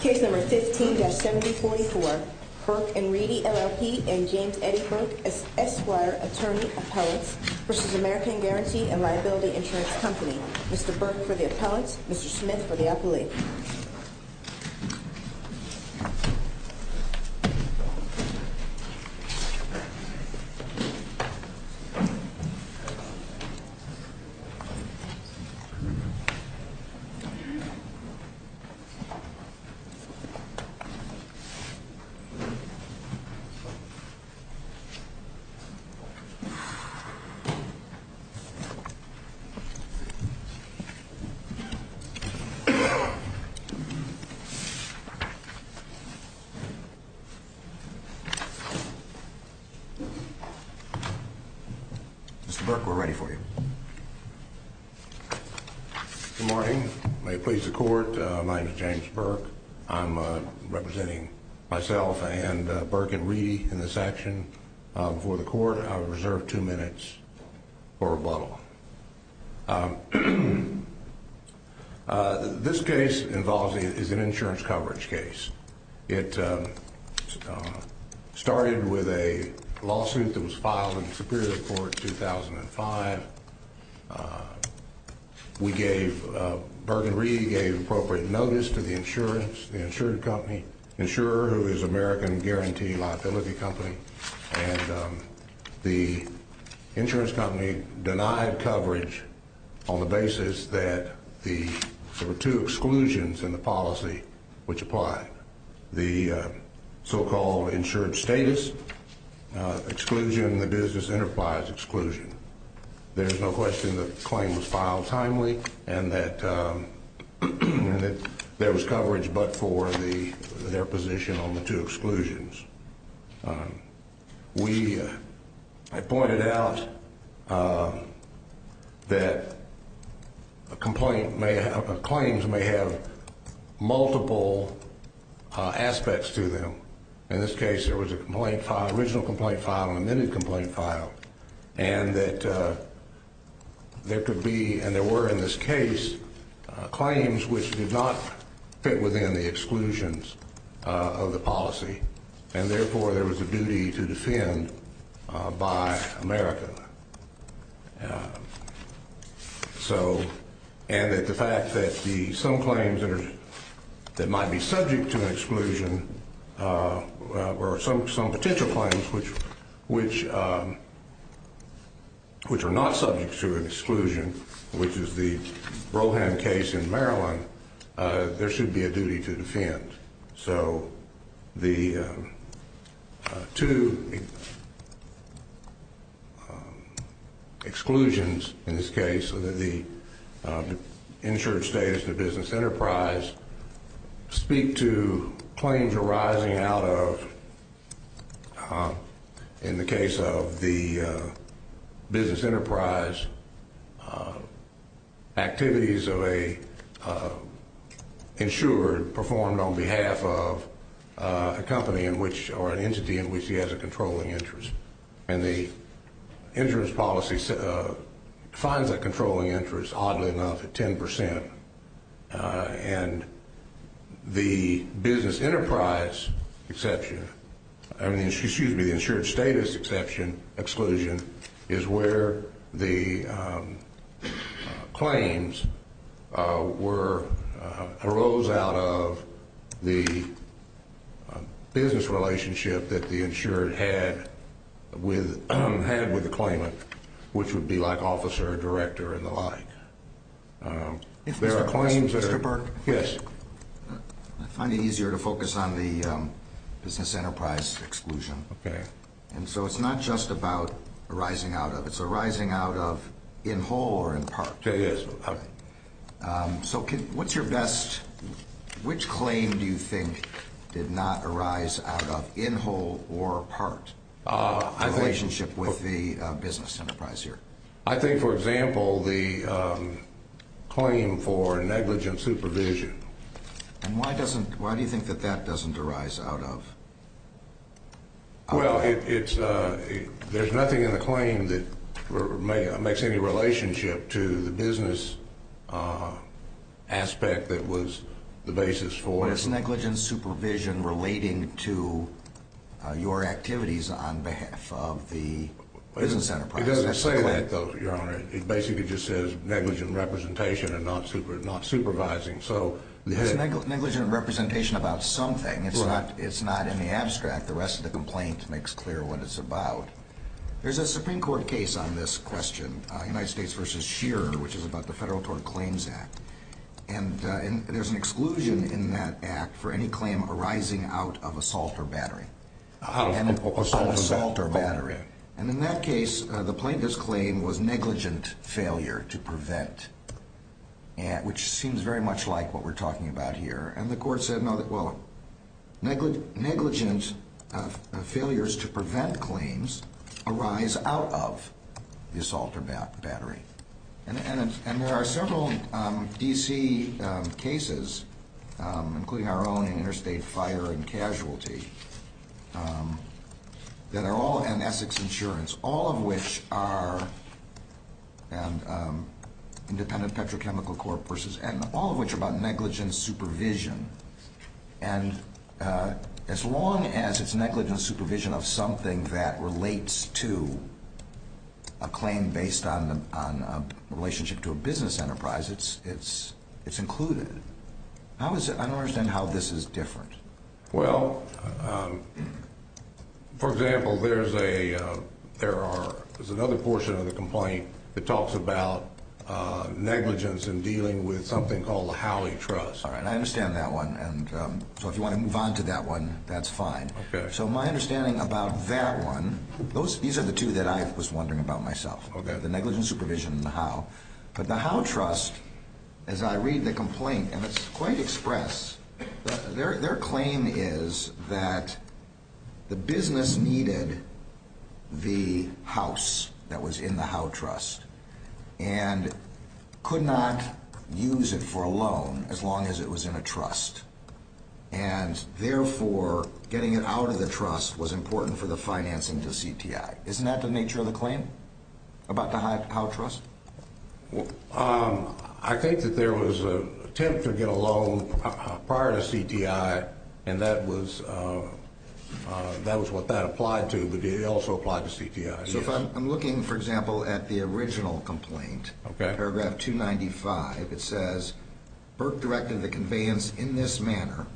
Case number 15-7044, Burke & Reedy, LLP and James Eddie Burke as Esquire Attorney Appellates v. American Guarantee & Liability Insurance Company. Mr. Burke for the appellate, Mr. Smith for the appellate. Mr. Burke, we're ready for you. Good morning. May it please the court, my name is James Burke. I'm representing myself and Burke & Reedy in this action. Before the court, I reserve two minutes for rebuttal. This case involves an insurance coverage case. It started with a lawsuit that was filed in the Superior Court in 2005. We gave, Burke & Reedy gave appropriate notice to the insurance, the insurance company, insurer who is American Guarantee & Liability Company. And the insurance company denied coverage on the basis that the, there were two exclusions in the policy which apply. The so-called insured status exclusion, the business enterprise exclusion. There's no question that the claim was filed timely and that there was coverage but for their position on the two exclusions. We, I pointed out that a complaint may, claims may have multiple aspects to them. In this case, there was a complaint file, original complaint file and an amended complaint file. And that there could be, and there were in this case, claims which did not fit within the exclusions of the policy. And therefore, there was a duty to defend by America. So, and that the fact that the, some claims that are, that might be subject to an exclusion, or some potential claims which are not subject to an exclusion, which is the Brohan case in Maryland, there should be a duty to defend. So, the two exclusions in this case, the insured status and the business enterprise, speak to claims arising out of, in the case of the business enterprise, activities of a insured performed on behalf of a company in which, or an entity in which he has a controlling interest. And the insurance policy defines that controlling interest, oddly enough, at 10%. And the business enterprise exception, I mean, excuse me, the insured status exception, exclusion, is where the claims arose out of the business relationship that the insured had with the claimant, which would be like officer, director, and the like. If there are claims that are- Mr. Burke? Yes. I find it easier to focus on the business enterprise exclusion. Okay. And so, it's not just about arising out of, it's arising out of in whole or in part. Yes. Okay. So, what's your best, which claim do you think did not arise out of, in whole or part, a relationship with the business enterprise here? I think, for example, the claim for negligent supervision. And why do you think that that doesn't arise out of? Well, there's nothing in the claim that makes any relationship to the business aspect that was the basis for it. But it's negligent supervision relating to your activities on behalf of the business enterprise. It doesn't say that, though, Your Honor. It basically just says negligent representation and not supervising. It's negligent representation about something. It's not in the abstract. The rest of the complaint makes clear what it's about. There's a Supreme Court case on this question, United States v. Shearer, which is about the Federal Tort Claims Act. And there's an exclusion in that act for any claim arising out of assault or battery. Assault or battery. And in that case, the plaintiff's claim was negligent failure to prevent, which seems very much like what we're talking about here. And the court said, well, negligent failures to prevent claims arise out of the assault or battery. And there are several D.C. cases, including our own in interstate fire and casualty, that are all in Essex Insurance, all of which are independent petrochemical corporations, and all of which are about negligent supervision. And as long as it's negligent supervision of something that relates to a claim based on a relationship to a business enterprise, it's included. I don't understand how this is different. Well, for example, there's another portion of the complaint that talks about negligence in dealing with something called the Howey Trust. All right, I understand that one, and so if you want to move on to that one, that's fine. Okay. So my understanding about that one, these are the two that I was wondering about myself. Okay. The negligent supervision and the Howey. But the Howey Trust, as I read the complaint, and it's quite express, their claim is that the business needed the house that was in the Howey Trust and could not use it for a loan as long as it was in a trust. And therefore, getting it out of the trust was important for the financing to CTI. Isn't that the nature of the claim about the Howey Trust? I think that there was an attempt to get a loan prior to CTI, and that was what that applied to, but it also applied to CTI. So if I'm looking, for example, at the original complaint, paragraph 295, it says, Burke directed the conveyance in this manner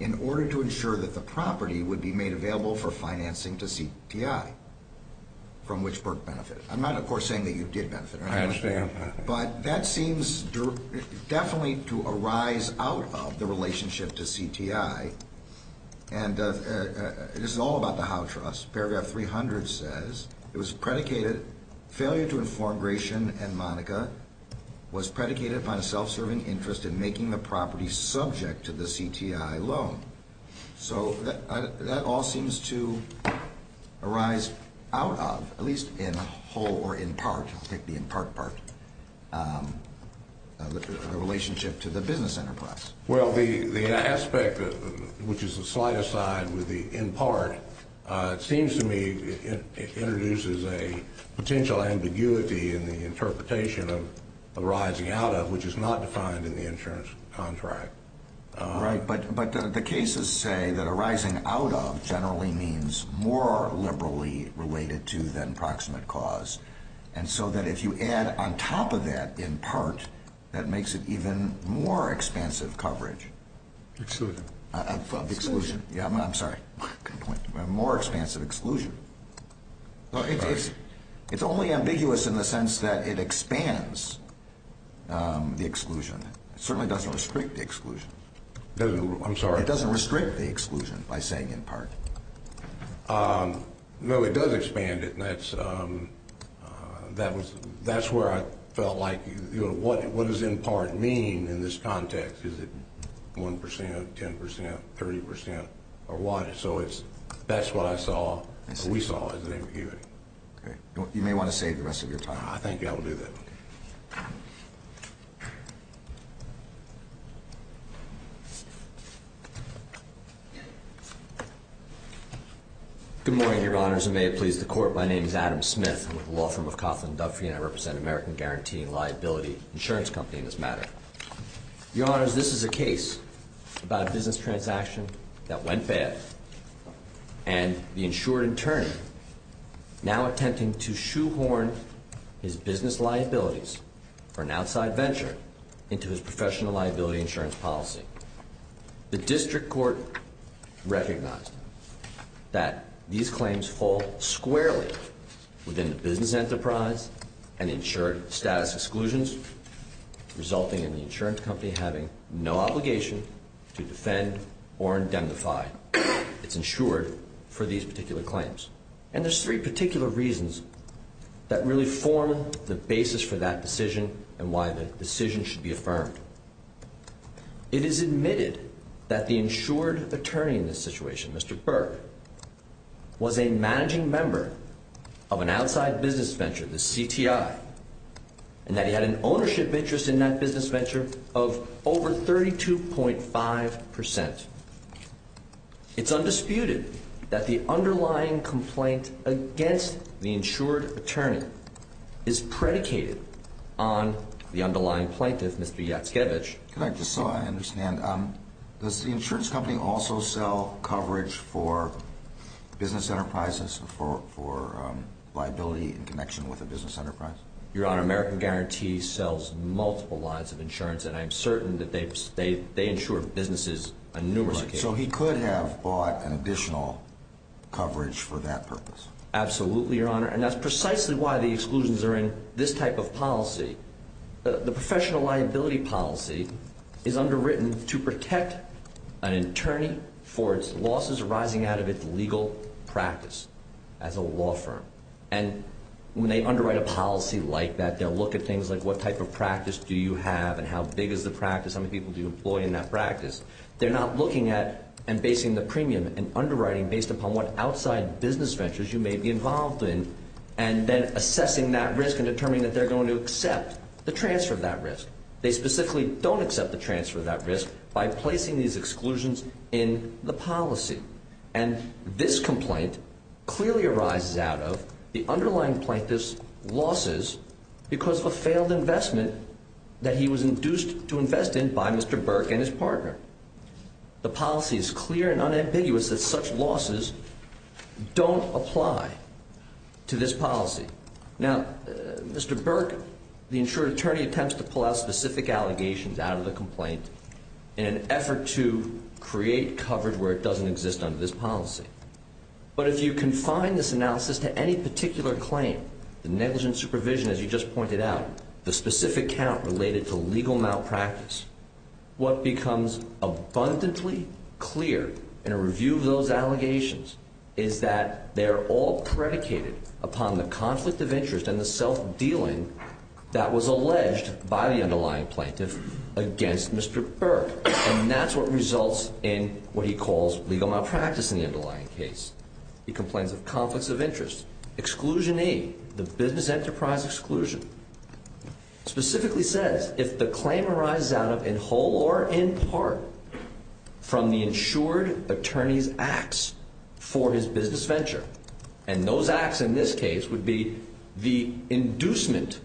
in order to ensure that the property would be made available for financing to CTI, from which Burke benefited. I'm not, of course, saying that you did benefit. I understand. But that seems definitely to arise out of the relationship to CTI, and this is all about the Howey Trust. Paragraph 300 says it was predicated, failure to inform Gratian and Monica was predicated upon a self-serving interest in making the property subject to the CTI loan. So that all seems to arise out of, at least in whole or in part, I'll take the in part part, the relationship to the business enterprise. Well, the aspect, which is the slightest side with the in part, it seems to me it introduces a potential ambiguity in the interpretation of arising out of, which is not defined in the insurance contract. Right, but the cases say that arising out of generally means more liberally related to than proximate cause. And so that if you add on top of that in part, that makes it even more expansive coverage. Exclusion. Of exclusion. Exclusion. Yeah, I'm sorry. Good point. More expansive exclusion. Sorry. It's only ambiguous in the sense that it expands the exclusion. It certainly doesn't restrict the exclusion. I'm sorry? It doesn't restrict the exclusion by saying in part. No, it does expand it, and that's where I felt like what does in part mean in this context? Is it 1%, 10%, 30% or what? So that's what I saw and we saw as an ambiguity. Okay. You may want to save the rest of your time. I think I will do that. Okay. Good morning, Your Honors, and may it please the Court. My name is Adam Smith. I'm with the law firm of Coughlin & Duffey, and I represent American Guarantee and Liability Insurance Company in this matter. Your Honors, this is a case about a business transaction that went bad, and the insured attorney now attempting to shoehorn his business liabilities for an outside venture into his professional liability insurance policy. The district court recognized that these claims fall squarely within the business enterprise and insured status exclusions, resulting in the insurance company having no obligation to defend or indemnify its insured for these particular claims. And there's three particular reasons that really form the basis for that decision and why the decision should be affirmed. It is admitted that the insured attorney in this situation, Mr. Burke, was a managing member of an outside business venture, the CTI, and that he had an ownership interest in that business venture of over 32.5%. It's undisputed that the underlying complaint against the insured attorney is predicated on the underlying plaintiff, Mr. Yatskevich. Could I just, so I understand, does the insurance company also sell coverage for business enterprises for liability in connection with a business enterprise? Your Honor, American Guarantee sells multiple lines of insurance, and I'm certain that they insure businesses on numerous occasions. So he could have bought an additional coverage for that purpose? Absolutely, Your Honor, and that's precisely why the exclusions are in this type of policy. The professional liability policy is underwritten to protect an attorney for its losses arising out of its legal practice as a law firm. And when they underwrite a policy like that, they'll look at things like what type of practice do you have and how big is the practice, how many people do you employ in that practice. They're not looking at and basing the premium and underwriting based upon what outside business ventures you may be involved in and then assessing that risk and determining that they're going to accept the transfer of that risk. They specifically don't accept the transfer of that risk by placing these exclusions in the policy. And this complaint clearly arises out of the underlying plaintiff's losses because of a failed investment that he was induced to invest in by Mr. Burke and his partner. The policy is clear and unambiguous that such losses don't apply to this policy. Now, Mr. Burke, the insured attorney, attempts to pull out specific allegations out of the complaint in an effort to create coverage where it doesn't exist under this policy. But if you confine this analysis to any particular claim, the negligent supervision, as you just pointed out, the specific count related to legal malpractice, what becomes abundantly clear in a review of those allegations is that they're all predicated upon the conflict of interest and the self-dealing that was alleged by the underlying plaintiff against Mr. Burke. And that's what results in what he calls legal malpractice in the underlying case. He complains of conflicts of interest. Exclusion A, the business enterprise exclusion, specifically says if the claim arises out of, in whole or in part, from the insured attorney's acts for his business venture, and those acts in this case would be the inducement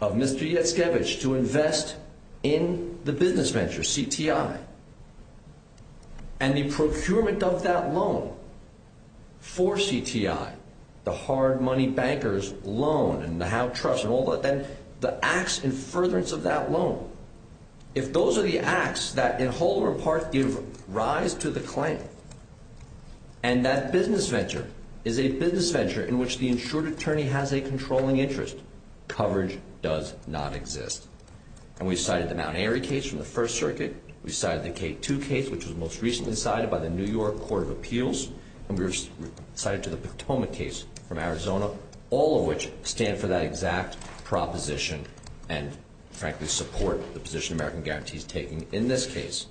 of Mr. Yatskevich to invest in the business venture, CTI, and the procurement of that loan for CTI, the hard money banker's loan and the house trust and all that, then the acts in furtherance of that loan, if those are the acts that in whole or in part give rise to the claim and that business venture is a business venture in which the insured attorney has a controlling interest, coverage does not exist. And we cited the Mount Airy case from the First Circuit. We cited the K2 case, which was most recently cited by the New York Court of Appeals. And we cited the Potomac case from Arizona, all of which stand for that exact proposition and, frankly, support the position American Guarantee is taking in this case.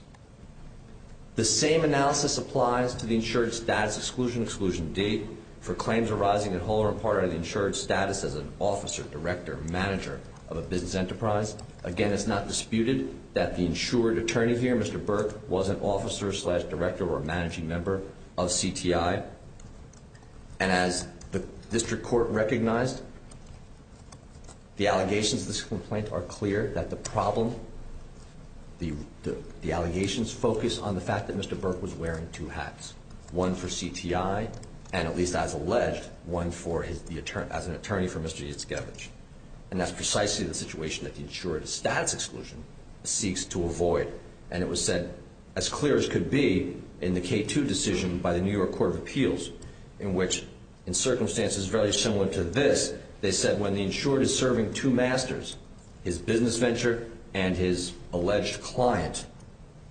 The same analysis applies to the insured status exclusion, exclusion D, for claims arising in whole or in part of the insured status as an officer, director, manager of a business enterprise. Again, it's not disputed that the insured attorney here, Mr. Burke, was an officer-slash-director or a managing member of CTI. And as the district court recognized, the allegations of this complaint are clear, that the problem, the allegations focus on the fact that Mr. Burke was wearing two hats, one for CTI and, at least as alleged, one as an attorney for Mr. Yatskevich. And that's precisely the situation that the insured status exclusion seeks to avoid. And it was said as clear as could be in the K2 decision by the New York Court of Appeals, in which, in circumstances very similar to this, they said when the insured is serving two masters, his business venture and his alleged client,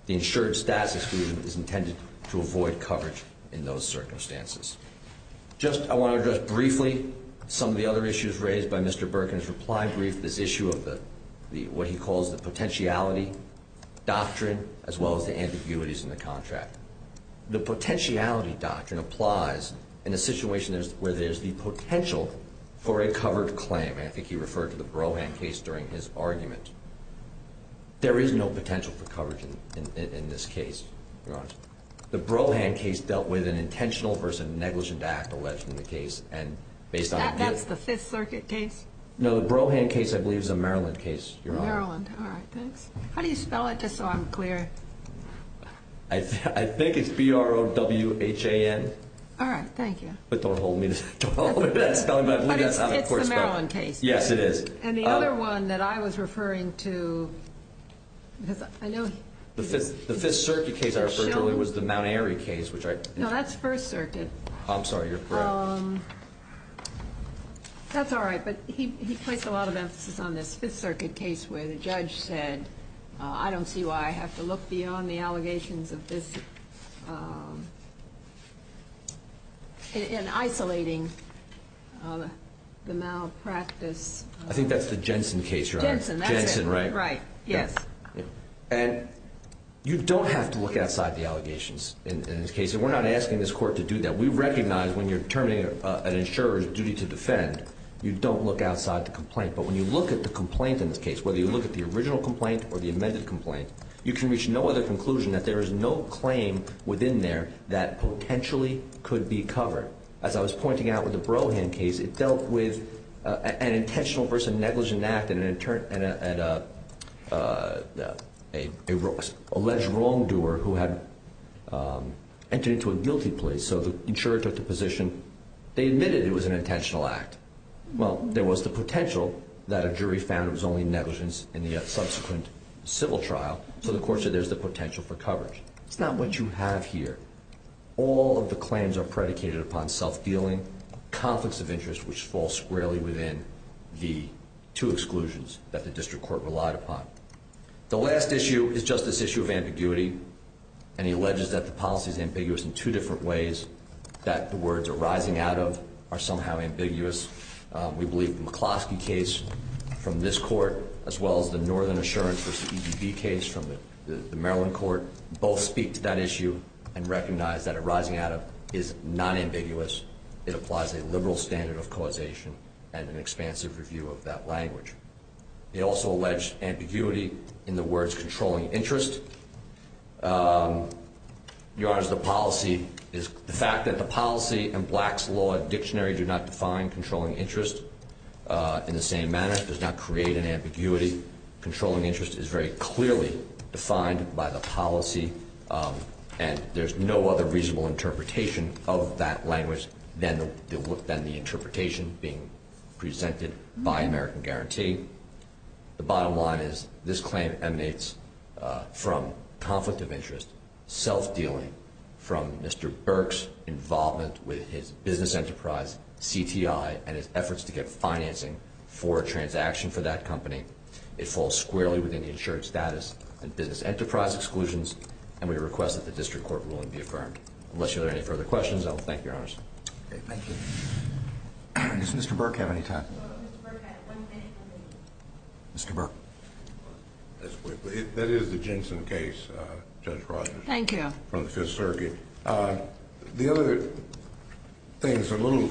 the insured status exclusion is intended to avoid coverage in those circumstances. I want to address briefly some of the other issues raised by Mr. Burke in his reply brief, this issue of what he calls the potentiality doctrine, as well as the ambiguities in the contract. The potentiality doctrine applies in a situation where there's the potential for a covered claim. And I think he referred to the Brohan case during his argument. There is no potential for coverage in this case, Your Honor. The Brohan case dealt with an intentional versus a negligent act alleged in the case, and based on appeals. That's the Fifth Circuit case? No, the Brohan case, I believe, is a Maryland case, Your Honor. Maryland. All right, thanks. How do you spell it, just so I'm clear? I think it's B-R-O-W-H-A-N. All right, thank you. But don't hold me to that spelling. But it's the Maryland case. Yes, it is. And the other one that I was referring to, because I know he's… The Fifth Circuit case I referred to earlier was the Mount Airy case, which I… No, that's First Circuit. I'm sorry, you're correct. That's all right, but he placed a lot of emphasis on this Fifth Circuit case where the judge said, I don't see why I have to look beyond the allegations of this in isolating the malpractice. I think that's the Jensen case, Your Honor. Jensen, that's it. Jensen, right? Right, yes. And you don't have to look outside the allegations in this case, and we're not asking this Court to do that. We recognize when you're determining an insurer's duty to defend, you don't look outside the complaint. But when you look at the complaint in this case, whether you look at the original complaint or the amended complaint, you can reach no other conclusion that there is no claim within there that potentially could be covered. As I was pointing out with the Brohan case, it dealt with an intentional versus negligent act and an alleged wrongdoer who had entered into a guilty plea. So the insurer took the position they admitted it was an intentional act. Well, there was the potential that a jury found it was only negligence in the subsequent civil trial, so the Court said there's the potential for coverage. It's not what you have here. All of the claims are predicated upon self-dealing, conflicts of interest, which fall squarely within the two exclusions that the District Court relied upon. The last issue is just this issue of ambiguity, and he alleges that the policy is ambiguous in two different ways that the words arising out of are somehow ambiguous. We believe the McCloskey case from this Court, as well as the Northern Assurance v. EDB case from the Maryland Court, both speak to that issue and recognize that arising out of is non-ambiguous. It applies a liberal standard of causation and an expansive review of that language. He also alleged ambiguity in the words controlling interest. Your Honor, the fact that the policy in Black's Law Dictionary do not define controlling interest in the same manner, does not create an ambiguity. Controlling interest is very clearly defined by the policy, and there's no other reasonable interpretation of that language than the interpretation being presented by American Guarantee. The bottom line is this claim emanates from conflict of interest, self-dealing, from Mr. Burke's involvement with his business enterprise, CTI, and his efforts to get financing for a transaction for that company. It falls squarely within the insured status and business enterprise exclusions, and we request that the District Court ruling be affirmed. Unless you have any further questions, I will thank Your Honors. Thank you. Does Mr. Burke have any time? Mr. Burke. That is the Jensen case, Judge Rogers. Thank you. From the Fifth Circuit. The other thing that's a little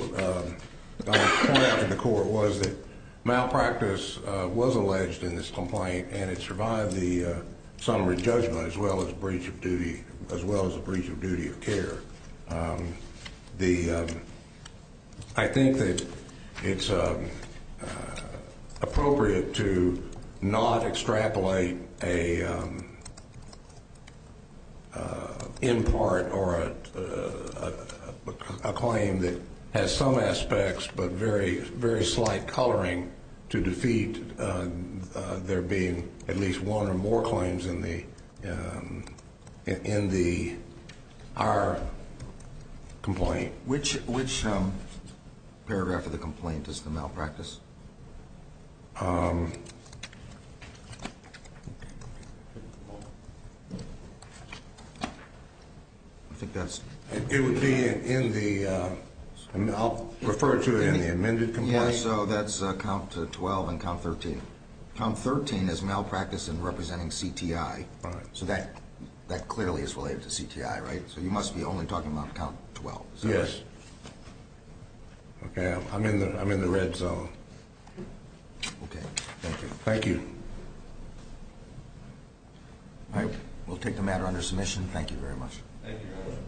pointed out to the Court was that malpractice was alleged in this complaint and it survived the summary judgment as well as a breach of duty of care. I think that it's appropriate to not extrapolate an impart or a claim that has some aspects but very slight coloring to defeat there being at least one or more claims in our complaint. Which paragraph of the complaint is the malpractice? It would be in the, I'll refer to it in the amended complaint. Yes, so that's count 12 and count 13. Count 13 is malpractice in representing CTI. So that clearly is related to CTI, right? So you must be only talking about count 12. Yes. Okay, I'm in the red zone. Okay, thank you. Thank you. All right, we'll take the matter under submission. Thank you very much. Thank you.